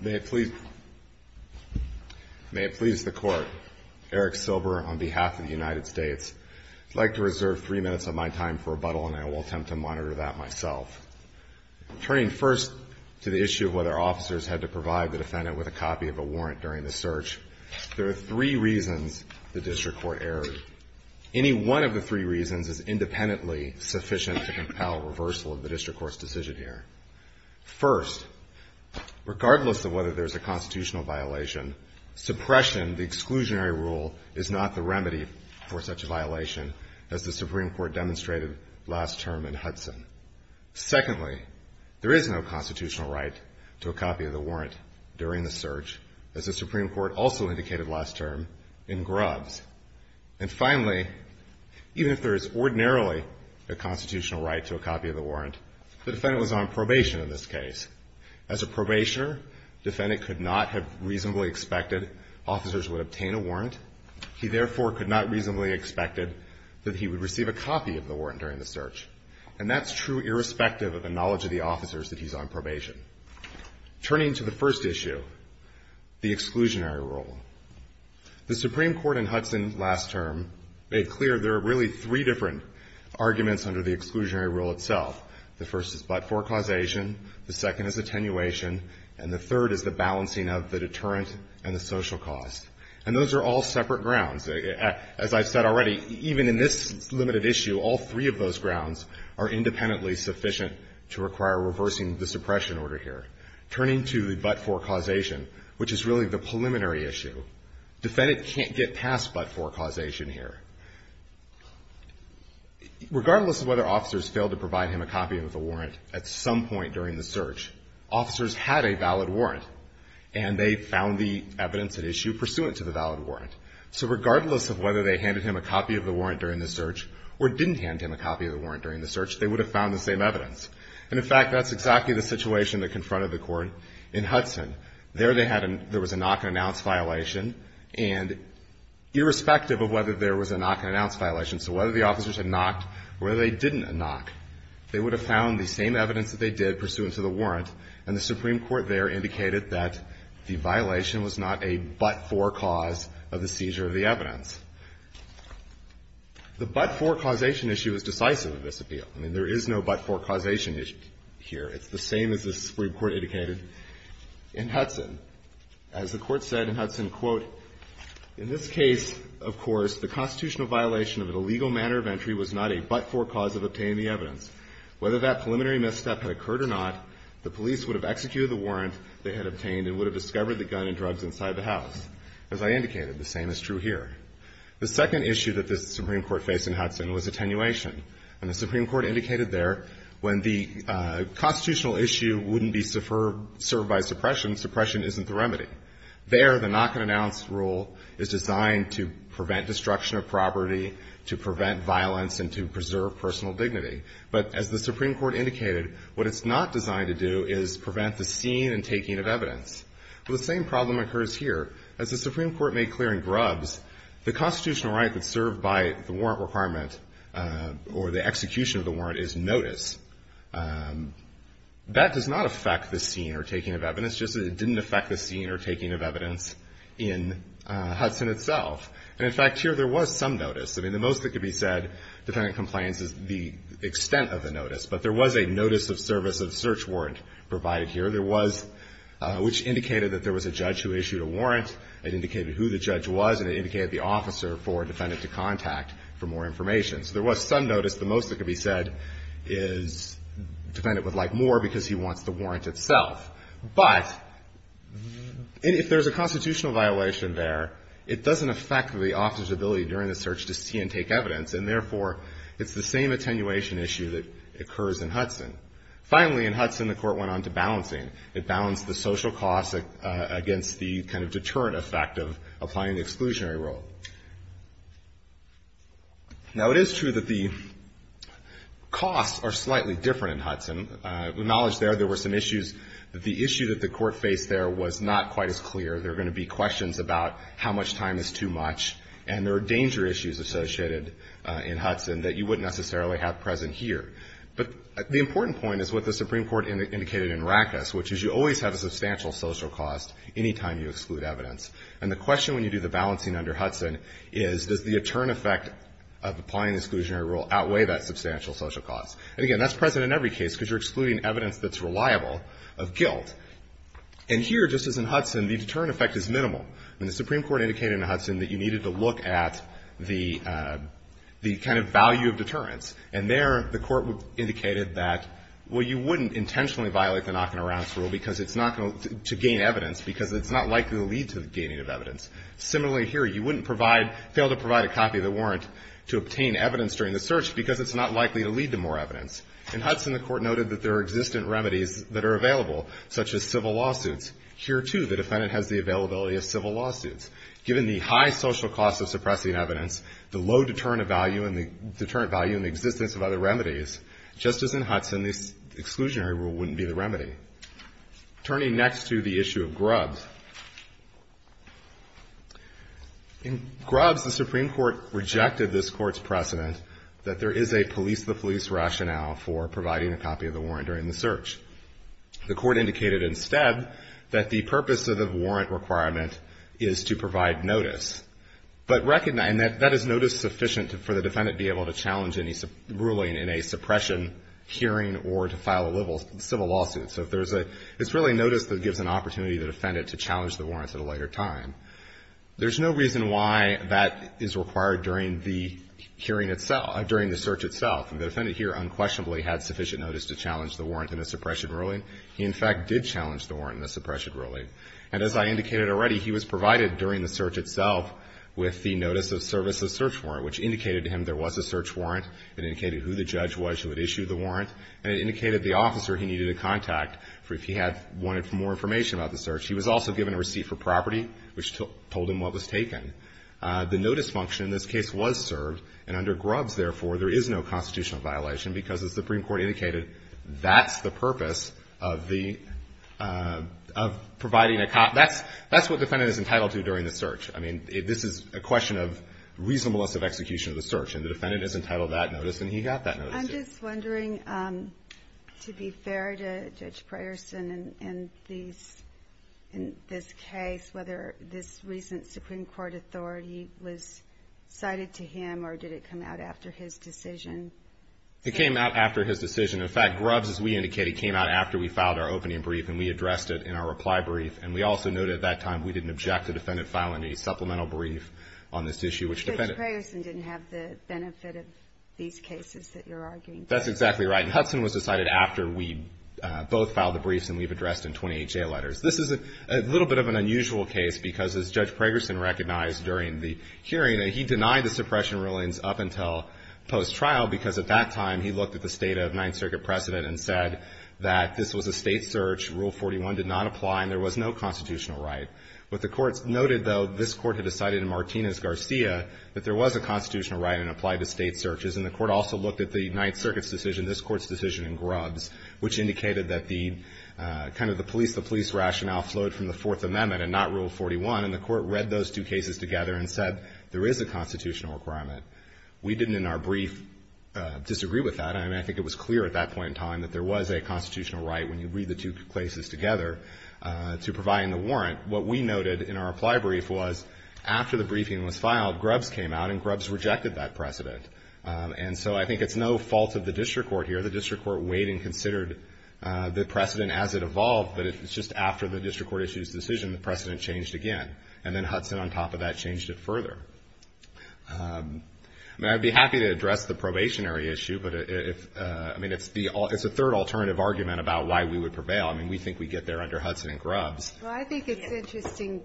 May it please the Court, Eric Silber, on behalf of the United States, I'd like to reserve three minutes of my time for rebuttal, and I will attempt to monitor that myself. Turning first to the issue of whether officers had to provide the defendant with a copy of a warrant during the search, there are three reasons the District Court erred. Any one of the three reasons is independently sufficient to compel reversal of the District Court's decision here. First, regardless of whether there's a constitutional violation, suppression, the exclusionary rule, is not the remedy for such a violation as the Supreme Court demonstrated last term in Hudson. Secondly, there is no constitutional right to a copy of the warrant during the search, as the Supreme Court also indicated last term in Grubbs. And finally, even if there is ordinarily a constitutional right to a copy of the warrant, the defendant was on probation in this case. As a probationer, the defendant could not have reasonably expected officers would obtain a warrant. He therefore could not reasonably expected that he would receive a copy of the warrant during the search. And that's true irrespective of the knowledge of the officers that he's on probation. Turning to the first issue, the exclusionary rule. The Supreme Court in Hudson last term made clear there are really three different arguments under the exclusionary rule itself. The first is but-for causation. The second is attenuation. And the third is the balancing of the deterrent and the social cost. And those are all separate grounds. As I've said already, even in this limited issue, all three of those grounds are independently sufficient to require reversing the suppression order here. Turning to the but-for causation, which is really the preliminary issue, defendant can't get past but-for causation here. Regardless of whether officers failed to provide him a copy of the warrant at some point during the search, officers had a valid warrant. And they found the evidence at issue pursuant to the valid warrant. So regardless of whether they handed him a copy of the warrant during the search or didn't hand him a copy of the warrant during the search, they would have found the same evidence. And in fact, that's exactly the situation that confronted the court in Hudson. There they had a, there they had a, irrespective of whether there was a knock-and-announce violation. So whether the officers had knocked or whether they didn't knock, they would have found the same evidence that they did pursuant to the warrant. And the Supreme Court there indicated that the violation was not a but-for cause of the seizure of the evidence. The but-for causation issue is decisive in this appeal. I mean, there is no but-for causation issue here. It's the same as the Supreme Court indicated in Hudson. As the case, of course, the constitutional violation of an illegal manner of entry was not a but-for cause of obtaining the evidence. Whether that preliminary misstep had occurred or not, the police would have executed the warrant they had obtained and would have discovered the gun and drugs inside the house. As I indicated, the same is true here. The second issue that the Supreme Court faced in Hudson was attenuation. And the Supreme Court indicated there when the constitutional issue wouldn't be served by suppression, suppression isn't the remedy. There, the knock-and-announce rule is designed to prevent destruction of property, to prevent violence, and to preserve personal dignity. But as the Supreme Court indicated, what it's not designed to do is prevent the seeing and taking of evidence. Well, the same problem occurs here. As the Supreme Court made clear in Grubbs, the constitutional right that's served by the warrant requirement or the execution of the warrant is notice. That does not affect the seeing or taking of evidence, just that it didn't affect the seeing or taking of evidence in Hudson itself. And in fact, here there was some notice. I mean, the most that could be said, defendant complains is the extent of the notice. But there was a notice of service of search warrant provided here. There was, which indicated that there was a judge who issued a warrant. It indicated who the judge was, and it indicated the officer for a defendant to contact for more information. So there was some notice. The most that could be said is defendant would like more because he wants the warrant itself. But if there's a constitutional violation there, it doesn't affect the officer's ability during the search to see and take evidence. And therefore, it's the same attenuation issue that occurs in Hudson. Finally, in Hudson, the court went on to balancing. It balanced the social costs against the kind of deterrent effect of applying the exclusionary rule. Now, it is true that the costs are slightly different in Hudson. With knowledge there, there were some issues. The issue that the court faced there was not quite as clear. There are going to be questions about how much time is too much, and there are danger issues associated in Hudson that you wouldn't necessarily have present here. But the important point is what the Supreme Court indicated in Rackus, which is you always have a substantial social cost any time you exclude evidence. And the question when you do the balancing under Hudson is, does the deterrent effect of applying the exclusionary rule outweigh that substantial social cost? And again, that's present in every case because you're excluding evidence that's reliable of guilt. And here, just as in Hudson, the deterrent effect is minimal. And the Supreme Court indicated in Hudson that you needed to look at the kind of value of deterrence. And there, the court indicated that, well, you wouldn't intentionally violate the knocking-around rule because it's not going to gain evidence, because it's not likely to lead to gaining of evidence. Similarly here, you wouldn't provide, fail to provide a copy of the warrant to obtain evidence during the search because it's not likely to lead to more evidence. In Hudson, the court noted that there are existent remedies that are available, such as civil lawsuits. Here, too, the defendant has the availability of civil lawsuits. Given the high social cost of suppressing evidence, the low deterrent value and the existence of other remedies, just as in Hudson, the exclusionary rule wouldn't be the remedy. Turning next to the issue of Grubbs, in Grubbs, the Supreme Court rejected this Court's precedent that there is a police-to-police rationale for providing a copy of the warrant during the search. The Court indicated instead that the purpose of the warrant requirement is to provide notice, but recognize that that is notice sufficient for the defendant to be able to challenge any ruling in a suppression hearing or to file a civil lawsuit. So if there's a – it's really notice that gives an opportunity to the defendant to challenge the warrant at a later time. There's no reason why that is required during the hearing itself – during the search itself. The defendant here unquestionably had sufficient notice to challenge the warrant in a suppression ruling. He, in fact, did challenge the warrant in a suppression ruling. And as I indicated already, he was provided during the search itself with the notice of service of search warrant, which indicated to him there was a search warrant. It indicated who the judge was who had issued the warrant, and it indicated the officer he needed to contact if he had – wanted more information about the search. He was also given a receipt for property, which told him what was taken. The notice function in this case was served, and under Grubbs, therefore, there is no constitutional violation, because the Supreme Court indicated that's the purpose of the – of providing a copy. That's what the defendant is entitled to during the search. I mean, this is a question of reasonableness of execution of the search, and the defendant is entitled to that notice, and he got that notice. I'm just wondering, to be fair to Judge Preyerson, in these – in this case, whether this recent Supreme Court authority was cited to him, or did it come out after his decision? It came out after his decision. In fact, Grubbs, as we indicated, came out after we filed our opening brief, and we addressed it in our reply brief. And we also noted at that time we didn't object the defendant filing a supplemental brief on this issue, which – But Judge Preyerson didn't have the benefit of these cases that you're arguing for. That's exactly right. And Hudson was decided after we both filed the briefs and we've addressed in 20HA letters. This is a little bit of an unusual case, because, as Judge Preyerson recognized during the hearing, he denied the suppression rulings up until post-trial, because at that time he looked at the State of Ninth Circuit precedent and said that this was a State search, Rule 41 did not apply, and there was no constitutional right. What the courts noted, though, this Court had decided in Martinez-Garcia that there was a constitutional right and it applied to State searches, and the Court also looked at the Ninth Circuit's decision, this Court's decision in Grubbs, which indicated that the – kind of the police-to-police rationale flowed from the Fourth Amendment and not Rule 41, and the Court read those two cases together and said there is a constitutional requirement. We didn't, in our brief, disagree with that. I mean, I think it was clear at that point in time that there was a constitutional right, when you read the two cases together, to providing the warrant. What we noted in our reply brief was, after the briefing was filed, Grubbs came out and Grubbs rejected that precedent. And so I think it's no fault of the district court here. The district court weighed and considered the precedent as it evolved, but it's just after the district court issued its decision, the precedent changed again. And then Hudson, on top of that, changed it further. I mean, I'd be happy to address the probationary issue, but if – I mean, it's the – it's a third alternative argument about why we would prevail. I mean, we think we get there under Hudson and Grubbs. Well, I think it's interesting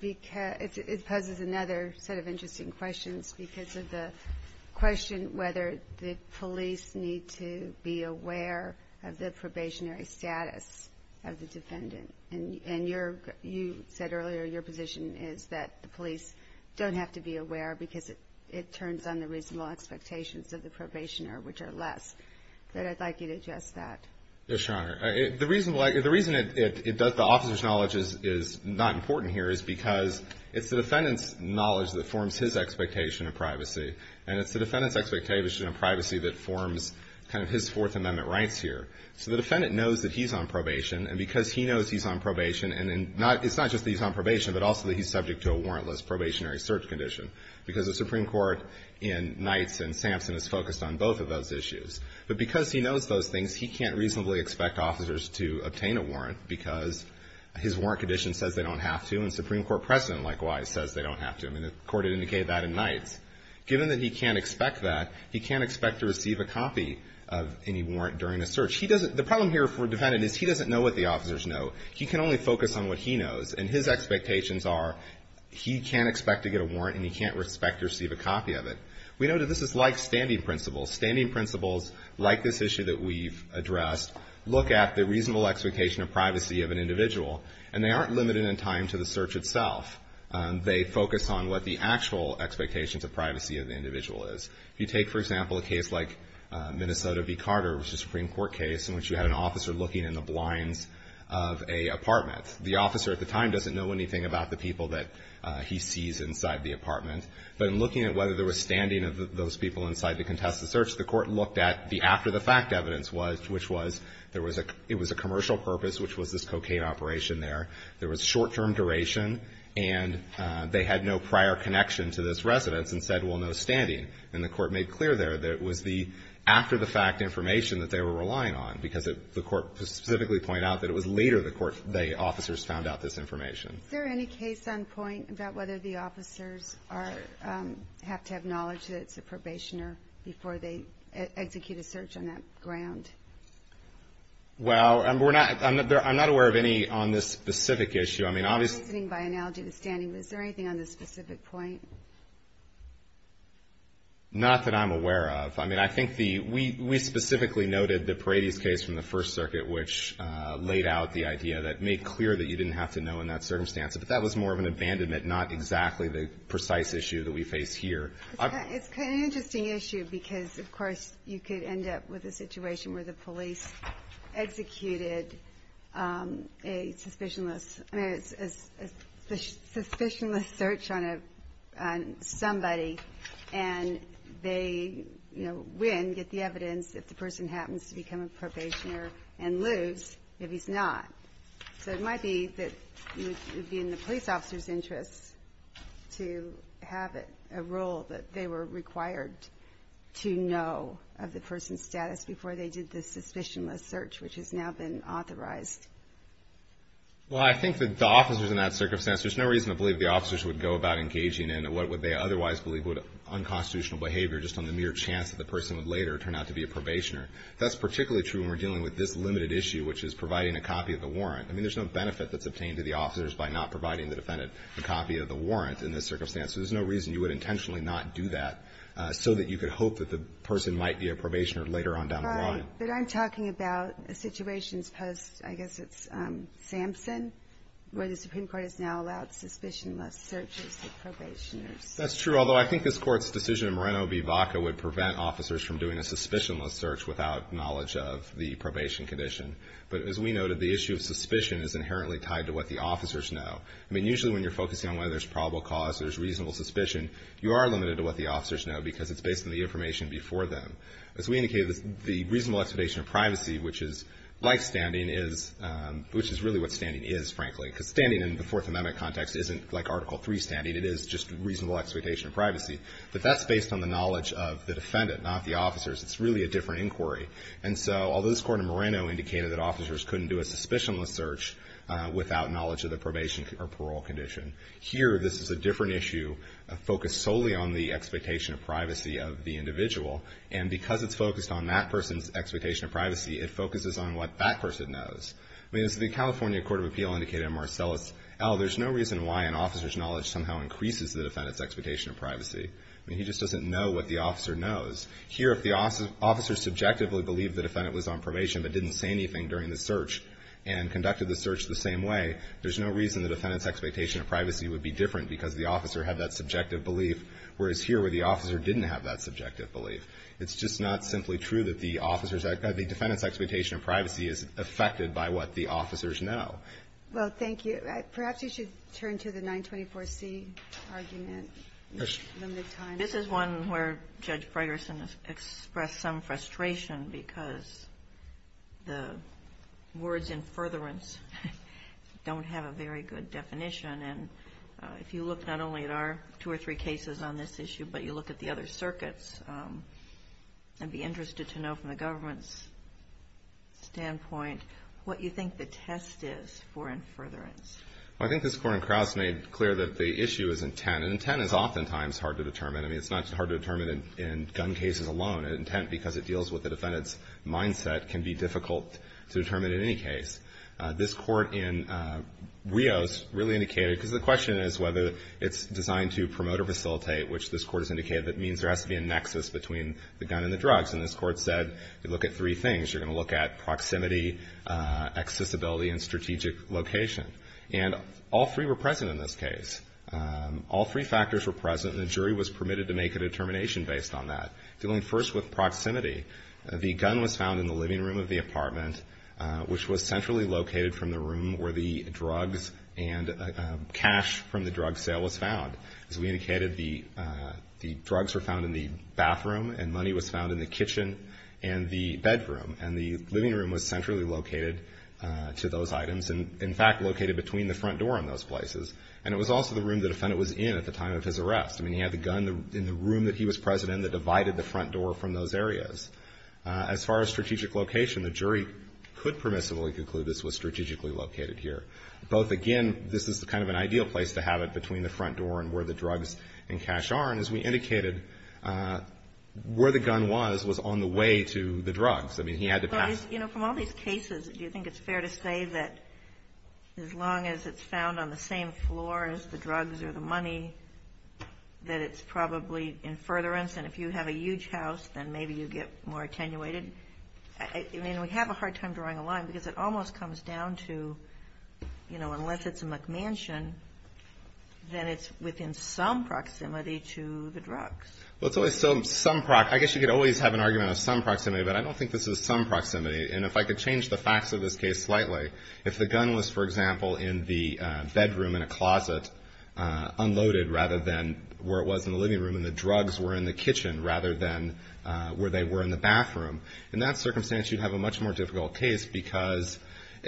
because – it poses another set of interesting questions because of the question whether the police need to be aware of the probationary status of the defendant. And your – you said earlier your position is that the police don't have to be aware because it turns on the reasonable expectations of the probationer, which are less. But I'd like you to address that. Yes, Your Honor. The reason – the reason it does – the officer's knowledge is not important here is because it's the defendant's knowledge that forms his expectation of privacy, and it's the defendant's expectation of privacy that forms kind of his Fourth Amendment rights here. So the defendant knows that he's on probation, and because he knows he's on probation and in – it's not just that he's on probation, but also that he's subject to a warrantless probationary search condition, because the Supreme Court in Knights and Sampson is focused on both of those issues. But because he knows those things, he can't reasonably expect officers to obtain a warrant because his warrant condition says they don't have to, and the Supreme Court president likewise says they don't have to. I mean, the Court had indicated that in Knights. Given that he can't expect that, he can't expect to receive a copy of any warrant during a search. He doesn't – the problem here for a defendant is he doesn't know what the officers know. He can only focus on what he knows. And his expectations are he can't expect to get a warrant and he can't expect to receive a copy of it. We know that this is like standing principles. Standing principles, like this issue that we've addressed, look at the reasonable expectation of privacy of an individual, and they aren't limited in time to the search itself. They focus on what the actual expectations of privacy of the individual is. If you take, for example, a case like Minnesota v. Carter, which is a Supreme Court case in which you had an officer looking in the blinds of a apartment. The officer at the time doesn't know anything about the people that he sees inside the apartment. But in looking at whether there was standing of those people inside the contested search, the Court looked at the after-the-fact evidence, which was there was a – it was a commercial purpose, which was this cocaine operation there. There was short-term duration, and they had no prior connection to this residence and said, well, no standing. And the Court made clear there that it was the after-the-fact information that they were relying on, because the Court specifically pointed out that it was later the Court – the officers found out this information. Is there any case on point about whether the officers are – have to have knowledge that it's a probationer before they execute a search on that ground? Well, we're not – I'm not aware of any on this specific issue. I mean, obviously – I'm reasoning by analogy to standing. But is there anything on this specific point? Not that I'm aware of. I mean, I think the – we specifically noted the Paradis case from the First Circuit, which laid out the idea that – made clear that you didn't have to know in that circumstance. But that was more of an abandonment, not exactly the precise issue that we face here. It's kind of an interesting issue, because, of course, you could end up with a situation where the police executed a suspicionless – I mean, a suspicionless search on a – on somebody, and they, you know, win, get the evidence if the person happens to become a probationer, and lose if he's not. So it might be that it would be in the police officer's interest to have a rule that they were required to know of the person's status before they did the suspicionless search, which has now been authorized. Well, I think that the officers in that circumstance – there's no reason to believe the officers would go about engaging in what would they otherwise believe would – unconstitutional behavior just on the mere chance that the person would later turn out to be a probationer. That's particularly true when we're dealing with this limited issue, which is providing a copy of the warrant that's obtained to the officers by not providing the defendant a copy of the warrant in this circumstance. So there's no reason you would intentionally not do that, so that you could hope that the person might be a probationer later on down the line. Right. But I'm talking about a situation as opposed – I guess it's Samson, where the Supreme Court has now allowed suspicionless searches of probationers. That's true, although I think this Court's decision in Moreno v. Vaca would prevent officers from doing a suspicionless search without knowledge of the probation condition. But as we noted, the issue of suspicion is inherently tied to what the officers know. I mean, usually when you're focusing on whether there's probable cause or there's reasonable suspicion, you are limited to what the officers know, because it's based on the information before them. As we indicated, the reasonable expectation of privacy, which is like standing, is – which is really what standing is, frankly, because standing in the Fourth Amendment context isn't like Article III standing. It is just reasonable expectation of privacy. But that's based on the knowledge of the defendant, not the officers. It's really a different inquiry. And so although this Court in Moreno indicated that officers couldn't do a suspicionless search without knowledge of the probation or parole condition, here this is a different issue focused solely on the expectation of privacy of the individual. And because it's focused on that person's expectation of privacy, it focuses on what that person knows. I mean, as the California Court of Appeal indicated in Marcellus L., there's no reason why an officer's knowledge somehow increases the defendant's expectation of privacy. I mean, he just doesn't know what the officer knows. Here, if the officer subjectively believed the defendant was on probation but didn't say anything during the search and conducted the search the same way, there's no reason the defendant's expectation of privacy would be different because the officer had that subjective belief, whereas here, where the officer didn't have that subjective belief. It's just not simply true that the officer's – the defendant's expectation of privacy is affected by what the officers know. Well, thank you. Perhaps you should turn to the 924C argument, limited time. This is one where Judge Fragerson expressed some frustration because the words in furtherance don't have a very good definition. And if you look not only at our two or three cases on this issue, but you look at the other circuits, I'd be interested to know from the government's standpoint what you think the test is for in furtherance. Well, I think this Court in Crouse made clear that the issue is intent. And intent is oftentimes hard to determine. I mean, it's not hard to determine in gun cases alone. Intent, because it deals with the defendant's mindset, can be difficult to determine in any case. This Court in Rios really indicated, because the question is whether it's designed to promote or facilitate, which this Court has indicated that means there has to be a nexus between the gun and the drugs. And this Court said, you look at three things. You're going to look at proximity, accessibility, and strategic location. And all three were present in this case. All three factors were present, and the jury was permitted to make a determination based on that. Dealing first with proximity, the gun was found in the living room of the apartment, which was centrally located from the room where the drugs and cash from the drug sale was found. As we indicated, the drugs were found in the bathroom, and money was found in the kitchen and the bedroom. And the living room was centrally located to those items, and in fact, located between the front door and those places. And it was also the room the defendant was in at the time of his arrest. I mean, he had the gun in the room that he was present in that divided the front door from those areas. As far as strategic location, the jury could permissibly conclude this was strategically located here. Both, again, this is kind of an ideal place to have it between the front door and where the drugs and cash are. And as we indicated, where the gun was was on the way to the drugs. I mean, he had to pass the drugs. But, you know, from all these cases, do you think it's fair to say that as long as it's found on the same floor as the drugs or the money, that it's probably in furtherance? And if you have a huge house, then maybe you get more attenuated? I mean, we have a hard time drawing a line, because it almost comes down to, you know, unless it's a McMansion, then it's within some proximity to the drugs. Well, it's always some proximity. I guess you could always have an argument of some proximity, but I don't think this is some proximity. And if I could change the facts of this case slightly, if the gun was, for example, in the bedroom in a closet unloaded rather than where it was in the living room, and the drugs were in the kitchen rather than where they were in the bathroom, in that circumstance you'd have a much more difficult case, because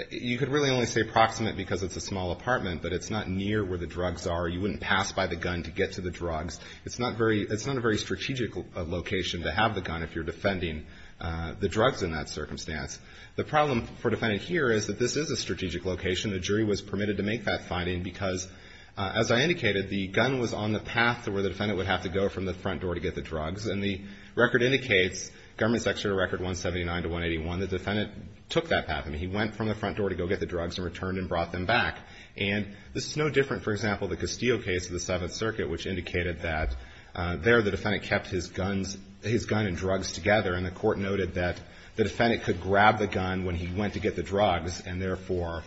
you could really only say approximate because it's a small apartment, but it's not near where the drugs are. You wouldn't pass by the gun to get to the drugs. It's not a very strategic location to have the gun if you're defending the drugs in that circumstance. The problem for a defendant here is that this is a strategic location. The jury was permitted to make that finding because, as I indicated, the gun was on the path to where the defendant would have to go from the front door to get the drugs. And the record indicates, Government Secretary Record 179 to 181, the defendant took that path. I mean, he went from the front door to go get the drugs and returned and brought them back. And this is no different, for example, the Castillo case of the Seventh Circuit, which indicated that there the defendant kept his guns, his gun and drugs together. And the court noted that the defendant could grab the gun when he went to get the drugs, and therefore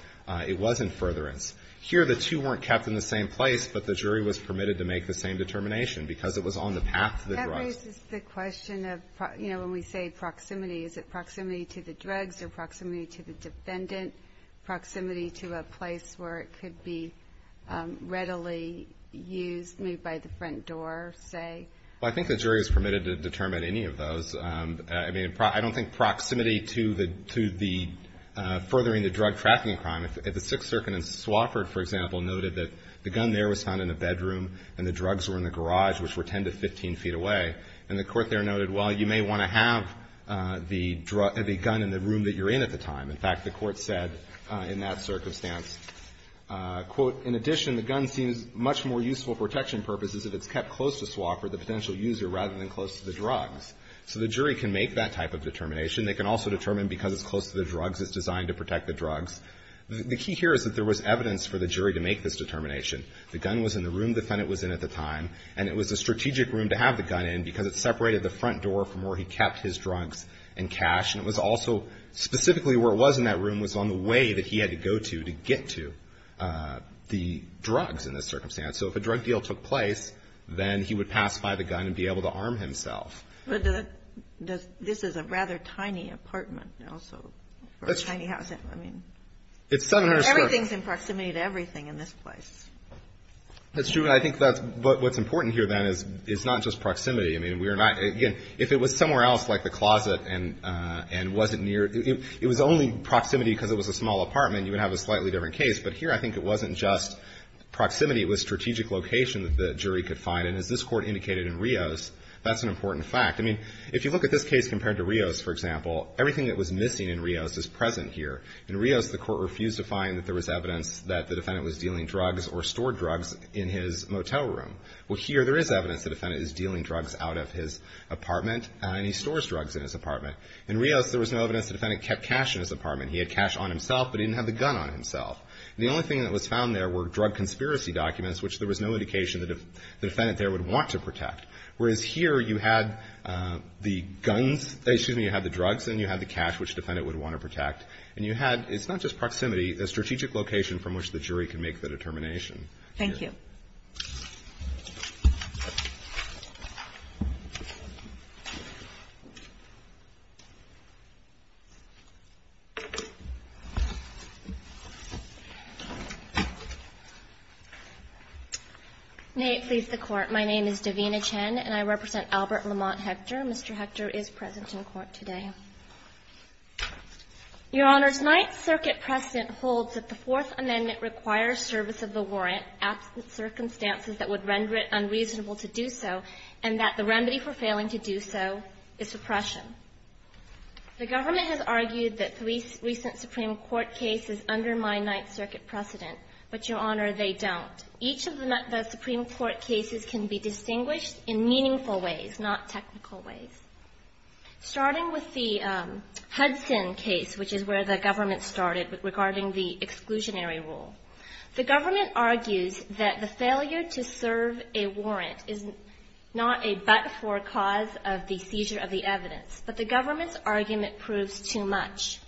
it was in furtherance. Here the two weren't kept in the same place, but the jury was permitted to make the same determination because it was on the path to the drugs. That raises the question of, you know, when we say proximity, is it proximity to the drugs or proximity to the defendant, proximity to a place where it could be readily used, moved by the front door, say? Well, I think the jury was permitted to determine any of those. I mean, I don't think proximity to the to the furthering the drug trafficking crime. If the Sixth Circuit in Swofford, for example, noted that the gun there was found in a bedroom and the drugs were in the garage, which were 10 to 15 feet away, and the court there noted, well, you may want to have the gun in the room that you're in at the time. In fact, the Court said in that circumstance, quote, in addition, the gun seems much more useful for protection purposes if it's kept close to Swofford, the potential user, rather than close to the drugs. So the jury can make that type of determination. They can also determine because it's close to the drugs, it's designed to protect the drugs. The key here is that there was evidence for the jury to make this determination. The gun was in the room the defendant was in at the time, and it was a strategic room to have the gun in because it separated the front door from where he kept his drugs and cash, and it was also specifically where it was in that room was on the way that he had to go to to get to the drugs in this circumstance. So if a drug deal took place, then he would pass by the gun and be able to arm himself. But this is a rather tiny apartment, also, for a tiny house. I mean, everything's in proximity to everything in this place. That's true, and I think that's what's important here, then, is it's not just proximity. I mean, we're not, again, if it was somewhere else, like the closet and wasn't near, it was only proximity because it was a small apartment, you would have a slightly different case. But here, I think it wasn't just proximity. It was strategic location that the jury could find, and as this Court indicated in Rios, that's an important fact. I mean, if you look at this case compared to Rios, for example, everything that was missing in Rios is present here. In Rios, the Court refused to find that there was evidence that the defendant was dealing drugs or stored drugs in his motel room. Well, here, there is evidence the defendant is dealing drugs out of his apartment, and he stores drugs in his apartment. In Rios, there was no evidence the defendant kept cash in his apartment. He had cash on himself, but he didn't have the gun on himself. The only thing that was found there were drug conspiracy documents, which there was no indication the defendant there would want to protect. Whereas here, you had the guns, excuse me, you had the drugs, and you had the cash, which the defendant would want to protect. And you had, it's not just proximity, a strategic location from which the jury can make the determination. Thank you. May it please the Court. My name is Davina Chen, and I represent Albert Lamont Hector. Mr. Hector is present in court today. Your Honors, Ninth Circuit precedent holds that the Fourth Amendment requires service of the warrant at circumstances that would render it unreasonable to do so, and that the remedy for failing to do so is suppression. The government has argued that three recent Supreme Court cases undermine Ninth Circuit precedent, but, Your Honor, they don't. Each of the Supreme Court cases can be distinguished in meaningful ways, not technical ways. Starting with the Hudson case, which is where the government started regarding the exclusionary rule. The government argues that the failure to serve a warrant is not a but-for cause of the seizure of the evidence, but the government's argument proves too much.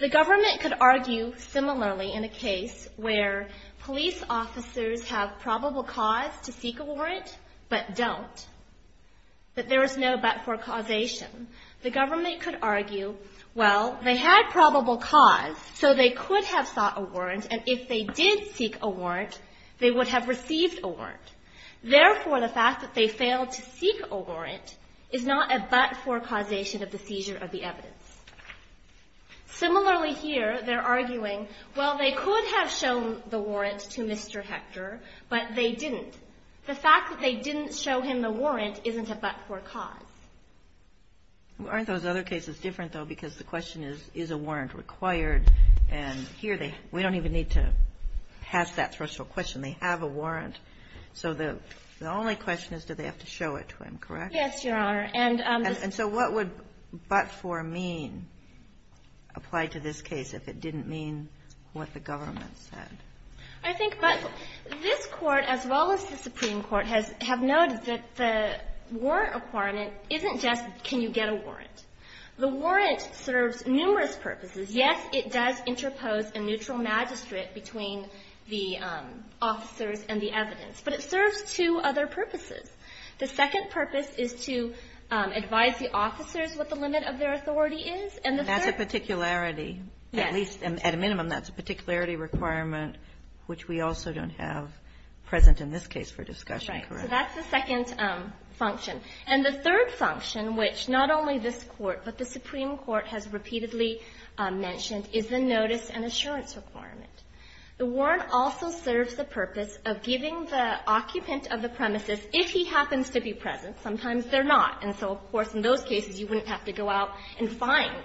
The government could argue similarly in a case where police officers have probable cause to seek a warrant, but don't, that there is no but-for causation. The government could argue, well, they had probable cause, so they could have sought a warrant, and if they did seek a warrant, they would have received a warrant. Therefore, the fact that they failed to seek a warrant is not a but-for causation of the seizure of the evidence. Similarly here, they're arguing, well, they could have shown the warrant to Mr. Hector, but they didn't. The fact that they didn't show him the warrant isn't a but-for cause. Aren't those other cases different, though, because the question is, is a warrant required, and here they we don't even need to ask that threshold question. They have a warrant, so the only question is do they have to show it to him, correct? Yes, Your Honor. And so what would but-for mean apply to this case if it didn't mean what the government said? I think but this Court, as well as the Supreme Court, have noted that the warrant requirement isn't just can you get a warrant. The warrant serves numerous purposes. Yes, it does interpose a neutral magistrate between the officers and the evidence, but it serves two other purposes. The second purpose is to advise the officers what the limit of their authority is, and the third one is to provide a warrant. And that's a particularity. Yes. At least, at a minimum, that's a particularity requirement which we also don't have present in this case for discussion, correct? Right. So that's the second function. And the third function, which not only this Court but the Supreme Court has repeatedly mentioned, is the notice and assurance requirement. The warrant also serves the purpose of giving the occupant of the premises, if he happens to be present, sometimes they're not, and so, of course, in those cases, you wouldn't have to go out and find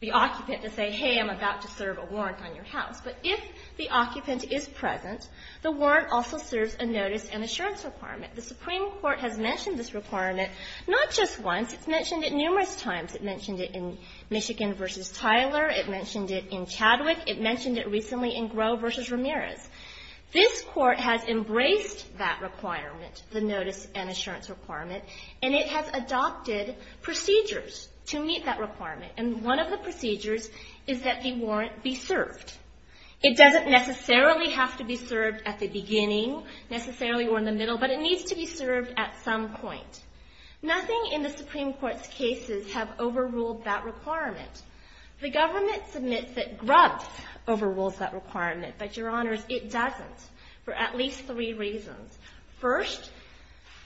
the occupant to say, hey, I'm about to serve a warrant on your house, but if the occupant is present, the warrant also serves a notice and assurance requirement. The Supreme Court has mentioned this requirement not just once. It's mentioned it numerous times. It mentioned it in Michigan v. Tyler. It mentioned it in Chadwick. It mentioned it recently in Grove v. Ramirez. This Court has embraced that requirement, the notice and assurance requirement, and it has adopted procedures to meet that requirement, and one of the procedures is that the warrant be served. It doesn't necessarily have to be served at the beginning necessarily or in the middle, but it needs to be served at some point. Nothing in the Supreme Court's cases have overruled that requirement. The government submits that Grubbs overrules that requirement, but, Your Honors, it doesn't, for at least three reasons. First,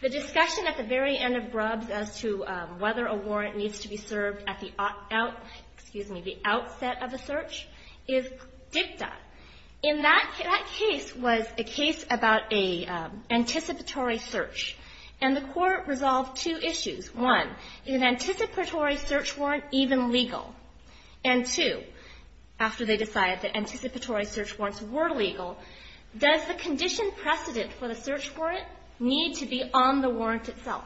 the discussion at the very end of Grubbs as to whether a warrant needs to be served at the out, excuse me, the outset of a search is dicta. In that case was a case about a anticipatory search, and the Court resolved two issues. One, is an anticipatory search warrant even legal? And two, after they decided that anticipatory search warrants were legal, does the condition precedent for the search warrant need to be on the warrant itself?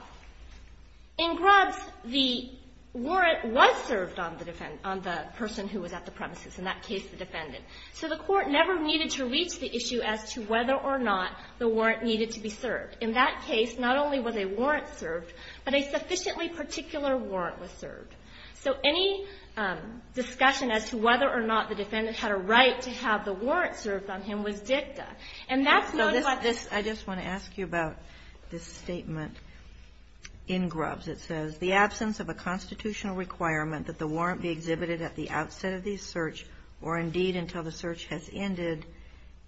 In Grubbs, the warrant was served on the person who was at the premises, in that case the defendant. So the Court never needed to reach the issue as to whether or not the warrant needed to be served. In that case, not only was a warrant served, but a sufficiently particular warrant was served. So any discussion as to whether or not the defendant had a right to have the warrant served on him was dicta. And that's known about this. I just want to ask you about this statement in Grubbs. It says, the absence of a constitutional requirement that the warrant be exhibited at the outset of the search, or indeed until the search has ended,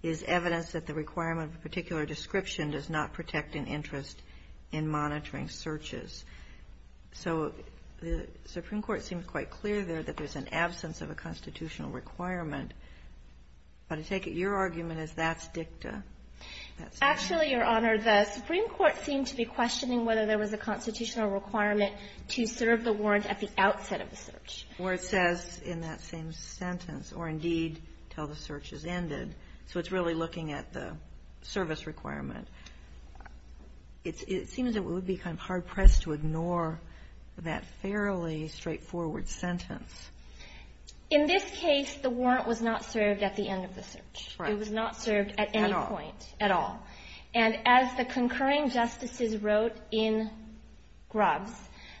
is evidence that the requirement of a particular description does not protect an interest in monitoring searches. So the Supreme Court seemed quite clear there that there's an absence of a constitutional requirement. But I take it your argument is that's dicta. Actually, Your Honor, the Supreme Court seemed to be questioning whether there was a constitutional requirement to serve the warrant at the outset of the search. Or it says in that same sentence, or indeed until the search has ended. So it's really looking at the service requirement. It seems that we would be kind of hard-pressed to ignore that fairly straightforward sentence. In this case, the warrant was not served at the end of the search. It was not served at any point at all. And as the concurring justices wrote in Grubbs,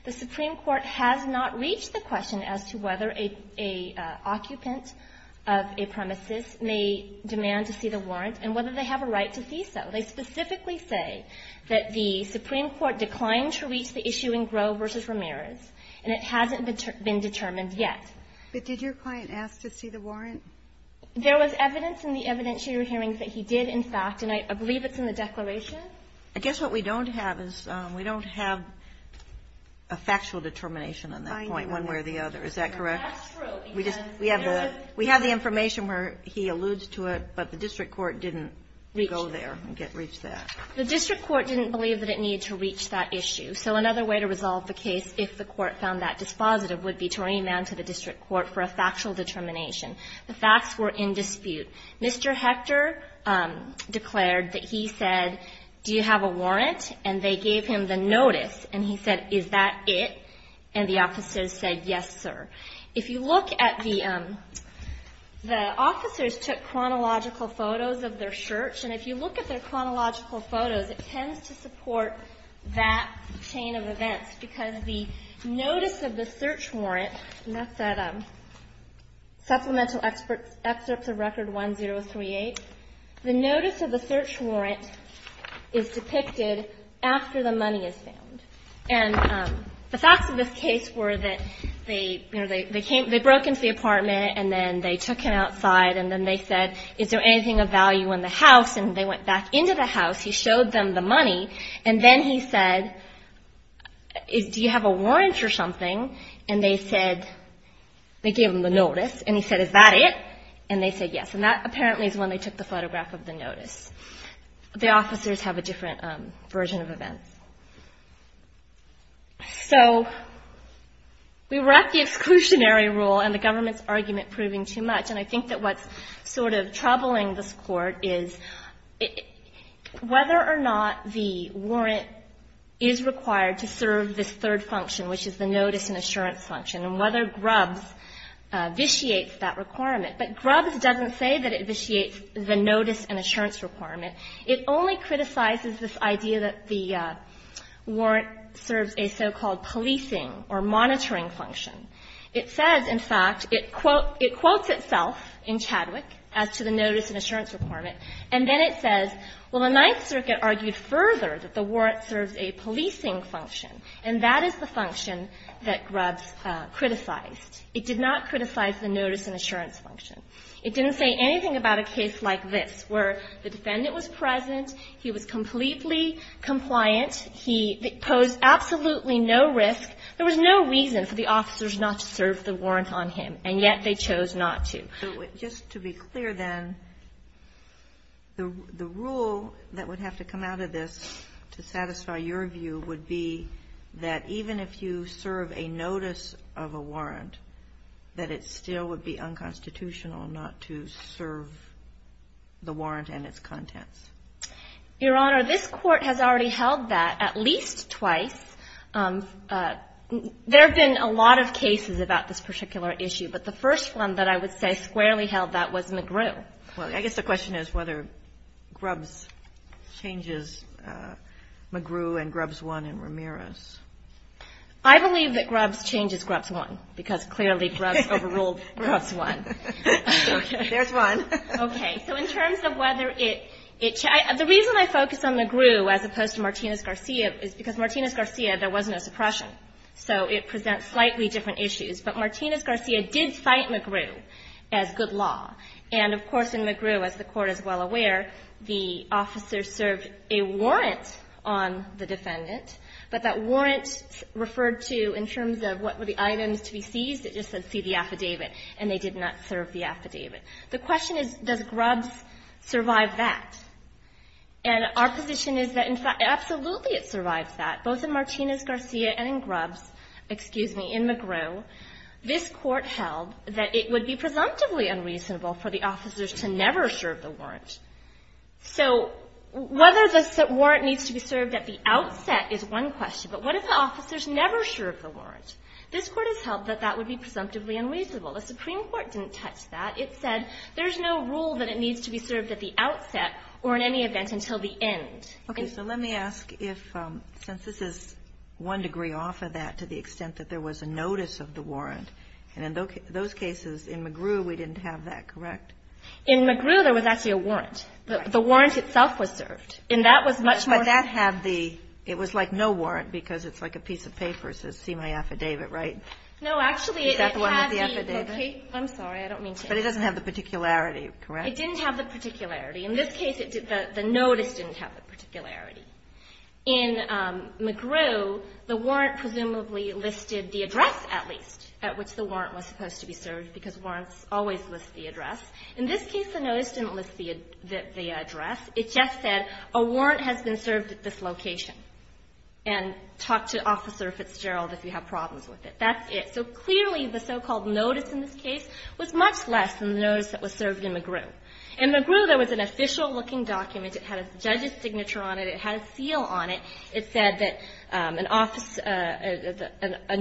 the Supreme Court has not reached the question as to whether an occupant of a premises may demand to see the warrant and whether they have a right to see so. They specifically say that the Supreme Court declined to reach the issue in Groh v. Ramirez, and it hasn't been determined yet. But did your client ask to see the warrant? There was evidence in the evidentiary hearings that he did, in fact. And I believe it's in the declaration. I guess what we don't have is we don't have a factual determination on that point. One way or the other, is that correct? That's true. We have the information where he alludes to it, but the district court didn't go there and reach that. The district court didn't believe that it needed to reach that issue. So another way to resolve the case, if the court found that dispositive, would be to remand to the district court for a factual determination. The facts were in dispute. Mr. Hector declared that he said, do you have a warrant, and they gave him the notice. And he said, is that it? And the officers said, yes, sir. If you look at the, the officers took chronological photos of their search. And if you look at their chronological photos, it tends to support that chain of events. Because the notice of the search warrant, and that's at Supplemental Excerpts of Record 1038. The notice of the search warrant is depicted after the money is found. And the facts of this case were that they, you know, they came, they broke into the apartment, and then they took him outside. And then they said, is there anything of value in the house? And they went back into the house. He showed them the money. And then he said, do you have a warrant or something? And they said, they gave him the notice. And he said, is that it? And they said, yes. And that apparently is when they took the photograph of the notice. The officers have a different version of events. So we were at the exclusionary rule, and the government's argument proving too much. And I think that what's sort of troubling this Court is whether or not the warrant is required to serve this third function, which is the notice and assurance function, and whether Grubbs vitiates that requirement. But Grubbs doesn't say that it vitiates the notice and assurance requirement. It only criticizes this idea that the warrant serves a so-called policing or monitoring function. It says, in fact, it quotes itself in Chadwick as to the notice and assurance requirement, and then it says, well, the Ninth Circuit argued further that the warrant serves a policing function, and that is the function that Grubbs criticized. It did not criticize the notice and assurance function. It didn't say anything about a case like this, where the defendant was present, he was completely compliant, he posed absolutely no risk. There was no reason for the officers not to serve the warrant on him, and yet they chose not to. Ginsburg, just to be clear then, the rule that would have to come out of this to satisfy your view would be that even if you serve a notice of a warrant, that it still would be unconstitutional not to serve the warrant and its contents. Your Honor, this Court has already held that at least twice. There have been a lot of cases about this particular issue, but the first one that I would say squarely held that was McGrew. Well, I guess the question is whether Grubbs changes McGrew and Grubbs won in Ramirez. I believe that Grubbs changes Grubbs won, because clearly Grubbs overruled Grubbs won. There's one. Okay. So in terms of whether it changed the reason I focus on McGrew as opposed to Martinez-Garcia is because Martinez-Garcia, there was no suppression, so it presents slightly different issues. But Martinez-Garcia did cite McGrew as good law. And, of course, in McGrew, as the Court is well aware, the officer served a warrant on the defendant, but that warrant referred to in terms of what were the items to be seized. It just said, see the affidavit, and they did not serve the affidavit. The question is, does Grubbs survive that? And our position is that, in fact, absolutely it survives that, both in Martinez-Garcia and in Grubbs, excuse me, in McGrew, this Court held that it would be presumptively unreasonable for the officers to never serve the warrant. So whether the warrant needs to be served at the outset is one question. But what if the officers never served the warrant? This Court has held that that would be presumptively unreasonable. The Supreme Court didn't touch that. It said there's no rule that it needs to be served at the outset or in any event until the end. Okay. So let me ask if, since this is one degree off of that to the extent that there was a notice of the warrant, and in those cases in McGrew, we didn't have that, correct? In McGrew, there was actually a warrant. The warrant itself was served. And that was much more of a rule. But that had the – it was like no warrant because it's like a piece of paper that says, see my affidavit, right? No. Actually, it had the location. Is that the one with the affidavit? I'm sorry. I don't mean to. But it doesn't have the particularity, correct? It didn't have the particularity. In this case, the notice didn't have the particularity. In McGrew, the warrant presumably listed the address, at least, at which the warrant was supposed to be served because warrants always list the address. In this case, the notice didn't list the address. It just said a warrant has been served at this location. And talk to Officer Fitzgerald if you have problems with it. That's it. So clearly, the so-called notice in this case was much less than the notice that was served in McGrew. In McGrew, there was an official-looking document. It had a judge's signature on it. It had a seal on it. It said that an office – a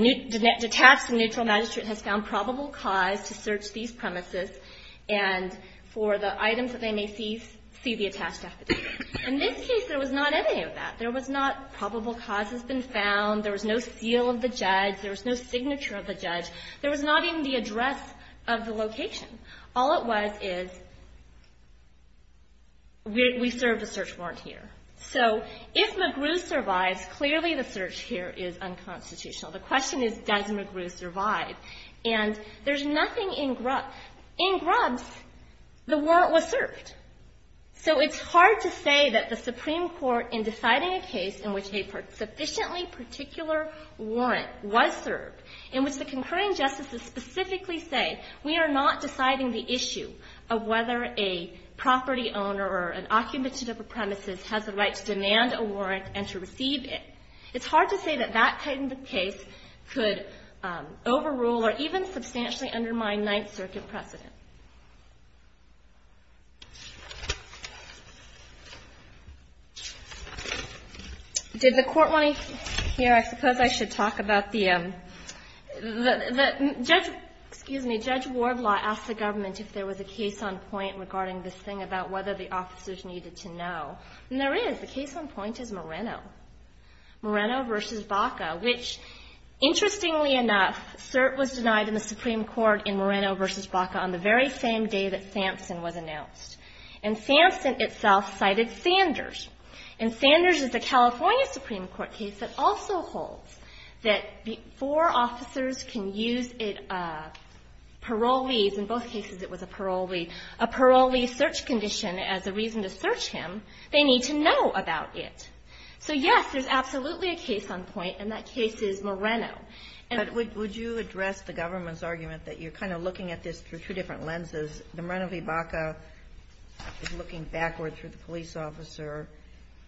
detached and neutral magistrate has found probable cause to search these premises and for the items that they may see, see the attached affidavit. In this case, there was not any of that. There was not probable cause has been found. There was no seal of the judge. There was no signature of the judge. There was not even the address of the location. All it was is, we serve a search warrant here. So if McGrew survives, clearly the search here is unconstitutional. The question is, does McGrew survive? And there's nothing in Grubbs. In Grubbs, the warrant was served. So it's hard to say that the Supreme Court, in deciding a case in which a sufficiently particular warrant was served, in which the concurring justices specifically say, we are not deciding the issue of whether a property owner or an occupant of a premises has the right to demand a warrant and to receive it. It's hard to say that that kind of case could overrule or even substantially undermine Ninth Circuit precedent. Did the Court want to hear – I suppose I should talk about the – the judge – excuse me, Judge Wardlaw asked the government if there was a case on point regarding this thing about whether the officers needed to know. And there is. The case on point is Moreno, Moreno v. Baca, which, interestingly enough, cert was denied in the Supreme Court in Moreno v. Baca on the very same day that Sampson was announced. And Sampson itself cited Sanders. And Sanders is a California Supreme Court case that also holds that before officers can use parolees – in both cases it was a parolee – a parolee search condition as a reason to search him, they need to know about it. So, yes, there's absolutely a case on point, and that case is Moreno. And – But would you address the government's argument that you're kind of looking at this through two different lenses? The Moreno v. Baca is looking backward through the police officer,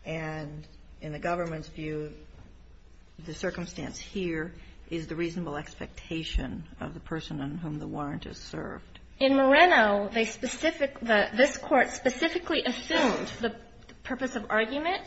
and in the government's the circumstance here is the reasonable expectation of the person on whom the warrant is served. In Moreno, they specific – this Court specifically assumed the purpose of argument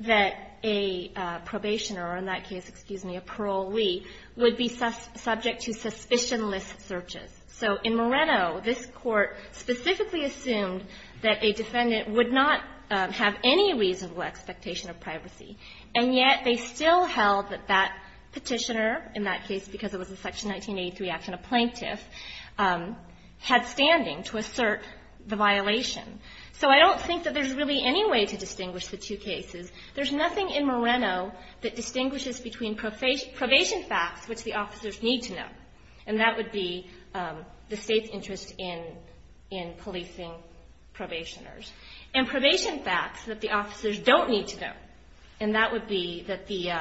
that a probationer, or in that case, excuse me, a parolee, would be subject to suspicion-less searches. So in Moreno, this Court specifically assumed that a defendant would not have any reasonable expectation of privacy. And yet, they still held that that petitioner, in that case because it was a Section 1983 action, a plaintiff, had standing to assert the violation. So I don't think that there's really any way to distinguish the two cases. There's nothing in Moreno that distinguishes between probation facts, which the officers need to know, and that would be the State's interest in policing probationers, and probation facts that the officers don't need to know, and that would be that the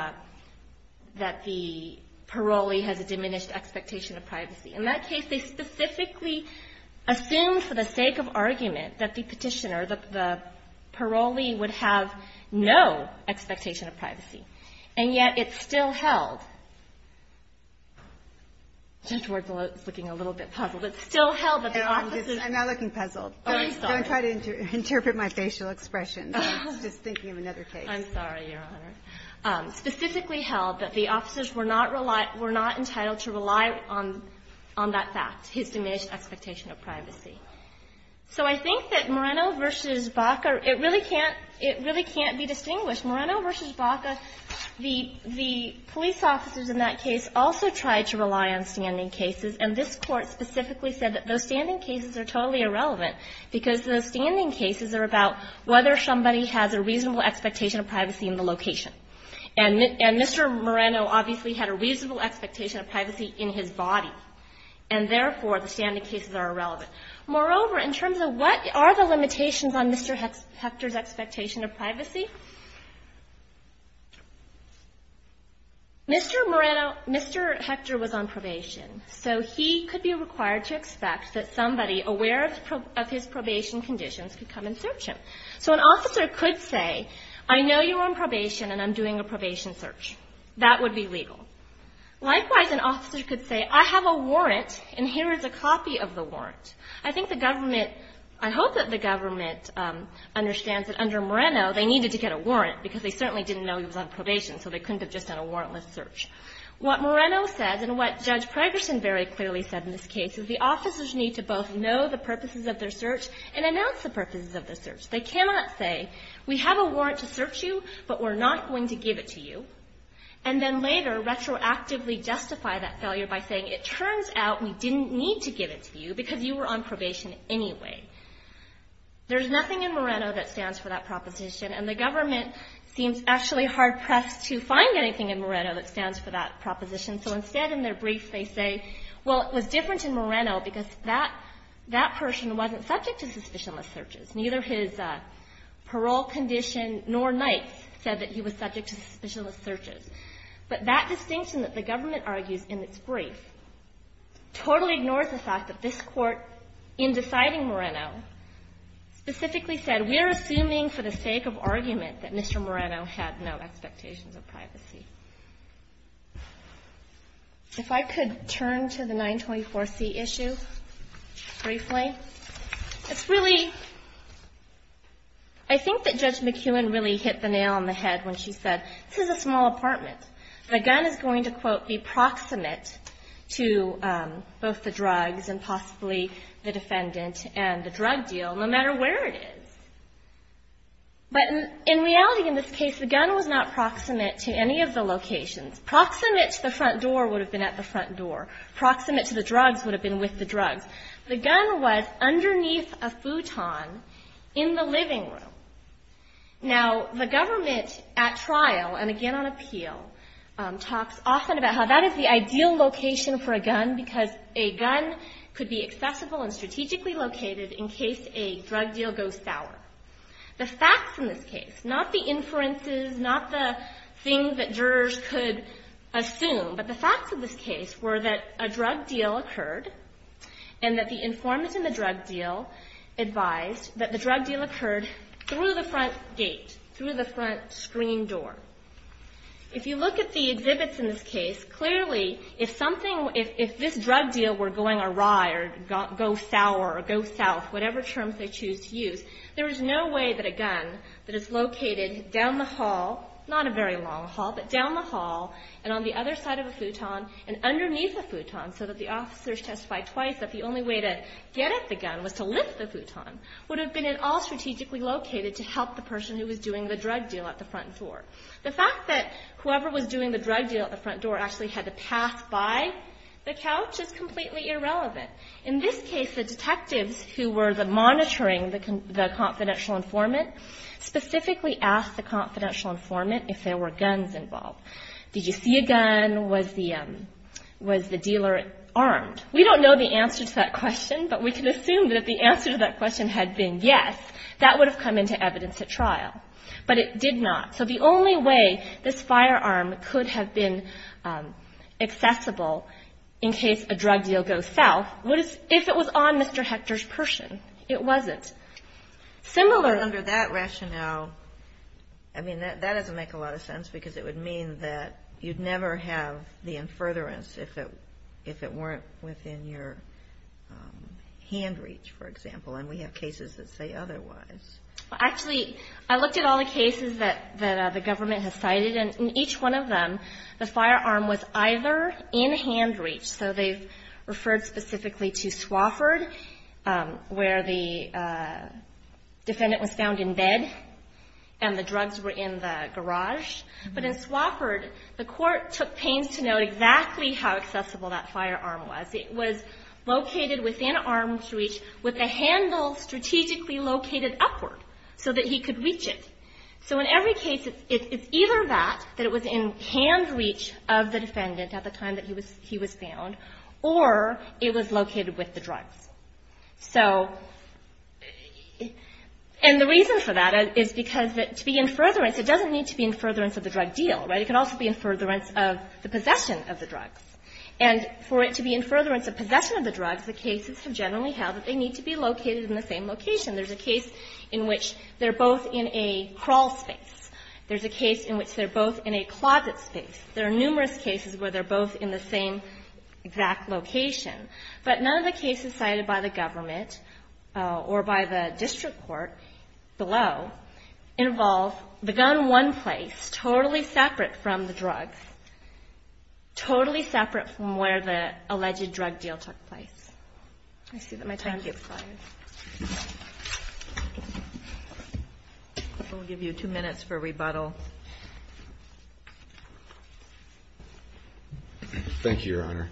parolee has a diminished expectation of privacy. In that case, they specifically assumed for the sake of argument that the petitioner, the parolee, would have no expectation of privacy. And yet, it's still held – this Court is looking a little bit puzzled. It's still held that the officers – I'm not looking puzzled. I'm sorry. Don't try to interpret my facial expression. I was just thinking of another case. I'm sorry, Your Honor. Specifically held that the officers were not entitled to rely on that fact, his diminished expectation of privacy. So I think that Moreno v. Baca, it really can't be distinguished. Moreno v. Baca, the police officers in that case also tried to rely on standing cases, and this Court specifically said that those standing cases are totally irrelevant because those standing cases are about whether somebody has a reasonable expectation of privacy in the location. And Mr. Moreno obviously had a reasonable expectation of privacy in his body, and therefore, the standing cases are irrelevant. Moreover, in terms of what are the limitations on Mr. Hector's expectation of privacy, Mr. Moreno – Mr. Hector was on probation, so he could be required to expect that somebody aware of his probation conditions could come and search him. So an officer could say, I know you're on probation and I'm doing a probation search. That would be legal. Likewise, an officer could say, I have a warrant, and here is a copy of the warrant. I think the government – I hope that the government understands that under Moreno, they needed to get a warrant because they certainly didn't know he was on probation, so they couldn't have just done a warrantless search. What Moreno said, and what Judge Pregerson very clearly said in this case, is the officers need to both know the purposes of their search and announce the purposes of their search. They cannot say, we have a warrant to search you, but we're not going to give it to you, and then later retroactively justify that failure by saying, it turns out we didn't need to give it to you because you were on probation anyway. There's nothing in Moreno that stands for that proposition, and the government seems actually hard-pressed to find anything in Moreno that stands for that proposition. So instead, in their brief, they say, well, it was different in Moreno because that person wasn't subject to suspicionless searches. Neither his parole condition nor Nights said that he was subject to suspicionless searches. But that distinction that the government argues in its brief totally ignores the fact that this Court, in deciding Moreno, specifically said, we're assuming for the sake of argument that Mr. Moreno had no expectations of privacy. If I could turn to the 924C issue briefly. It's really, I think that Judge McKeown really hit the nail on the head when she said, this is a small apartment. The gun is going to, quote, be proximate to both the drugs and possibly the defendant and the drug deal, no matter where it is. But in reality, in this case, the gun was not proximate to any of the locations. Proximate to the front door would have been at the front door. Proximate to the drugs would have been with the drugs. The gun was underneath a futon in the living room. Now, the government at trial, and again on appeal, talks often about how that is the ideal location for a gun because a gun could be accessible and strategically located in case a drug deal goes sour. The facts in this case, not the inferences, not the thing that jurors could assume, but the facts of this case were that a drug deal occurred and that the informant in the drug deal advised that the drug deal occurred through the front gate, through the front screen door. If you look at the exhibits in this case, clearly if something, if this drug deal were going awry or go sour or go south, whatever terms they choose to use, there is no way that a gun that is located down the hall, not a very long hall, but down the hall and on the other side of a futon and underneath a futon so that the officers testify twice that the only way to get at the gun was to lift the futon, would have been at all strategically located to help the person who was doing the drug deal at the front door. The fact that whoever was doing the drug deal at the front door actually had to pass by the couch is completely irrelevant. In this case, the detectives who were the monitoring, the confidential informant, specifically asked the confidential informant if there were guns involved, did you see a gun, was the dealer armed? We don't know the answer to that question, but we can assume that if the answer to that question had been yes, that would have come into evidence at trial. But it did not. So the only way this firearm could have been accessible in case a drug deal goes south was if it was on Mr. Hector's person. It wasn't. Similar Under that rationale, I mean, that doesn't make a lot of sense because it would mean that you'd never have the in furtherance if it weren't within your hand reach, for example, and we have cases that say otherwise. Actually, I looked at all the cases that the government has cited, and in each one of them, the firearm was either in hand reach, so they've referred specifically to Swofford, where the court took pains to note exactly how accessible that firearm was. It was located within arm's reach with the handle strategically located upward so that he could reach it. So in every case, it's either that, that it was in hand reach of the defendant at the time that he was found, or it was located with the drugs. And the reason for that is because to be in furtherance, it doesn't need to be in furtherance of the drug deal, right? It can also be in furtherance of the possession of the drugs. And for it to be in furtherance of possession of the drugs, the cases have generally held that they need to be located in the same location. There's a case in which they're both in a crawl space. There's a case in which they're both in a closet space. There are numerous cases where they're both in the same exact location. But none of the cases cited by the government or by the district court below involve the So it's one place, totally separate from the drugs, totally separate from where the alleged drug deal took place. I see that my time is up. We'll give you two minutes for rebuttal. Thank you, Your Honor.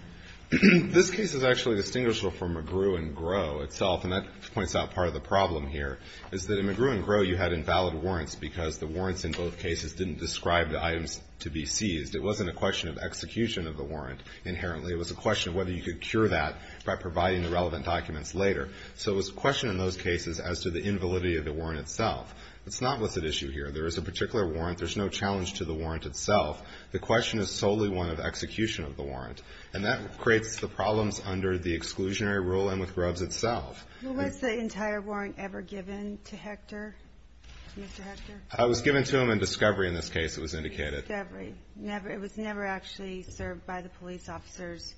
This case is actually distinguishable from McGrew and Gros itself, and that points out part of the problem here, is that in McGrew and Gros you had invalid warrants because the warrants in both cases didn't describe the items to be seized. It wasn't a question of execution of the warrant inherently. It was a question of whether you could cure that by providing the relevant documents later. So it was a question in those cases as to the invalidity of the warrant itself. It's not a licit issue here. There is a particular warrant. There's no challenge to the warrant itself. The question is solely one of execution of the warrant. And that creates the problems under the exclusionary rule and with Gros itself. Well, was the entire warrant ever given to Hector, Mr. Hector? I was given to him in discovery in this case, it was indicated. In discovery. It was never actually served by the police officers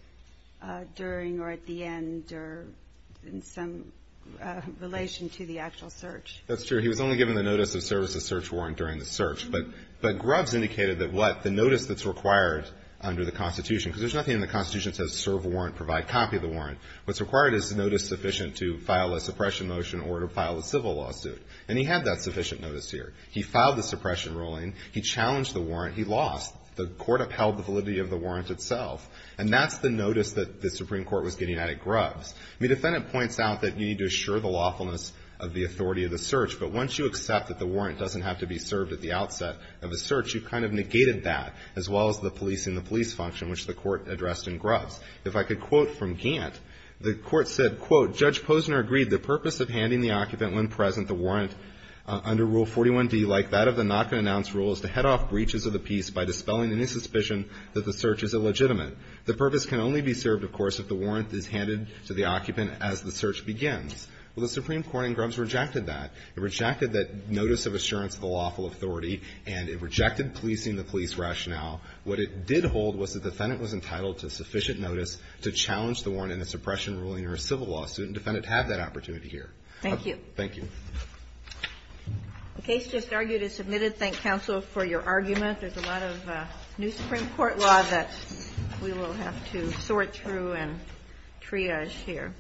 during or at the end or in some relation to the actual search. That's true. He was only given the notice of service of search warrant during the search. But Gros indicated that what? The notice that's required under the Constitution, because there's nothing in the Constitution that says serve warrant, provide copy of the warrant. What's required is notice sufficient to file a suppression motion or to file a civil lawsuit. And he had that sufficient notice here. He filed the suppression ruling. He challenged the warrant. He lost. The court upheld the validity of the warrant itself. And that's the notice that the Supreme Court was getting out of Gros. The defendant points out that you need to assure the lawfulness of the authority of the search. But once you accept that the warrant doesn't have to be served at the outset of a search, you've kind of negated that, as well as the policing the police function, which the court addressed in Gros. If I could quote from Gant, the court said, quote, Judge Posner agreed the purpose of handing the occupant when present the warrant under Rule 41D, like that of the not-to-announce rule, is to head off breaches of the peace by dispelling any suspicion that the search is illegitimate. The purpose can only be served, of course, if the warrant is handed to the occupant as the search begins. Well, the Supreme Court in Gros rejected that. It rejected that notice of assurance of the lawful authority. And it rejected policing the police rationale. What it did hold was the defendant was entitled to sufficient notice to challenge the warrant in a suppression ruling or a civil lawsuit, and the defendant had that opportunity here. Thank you. Thank you. The case just argued is submitted. Thank, counsel, for your argument. There's a lot of new Supreme Court law that we will have to sort through and triage here.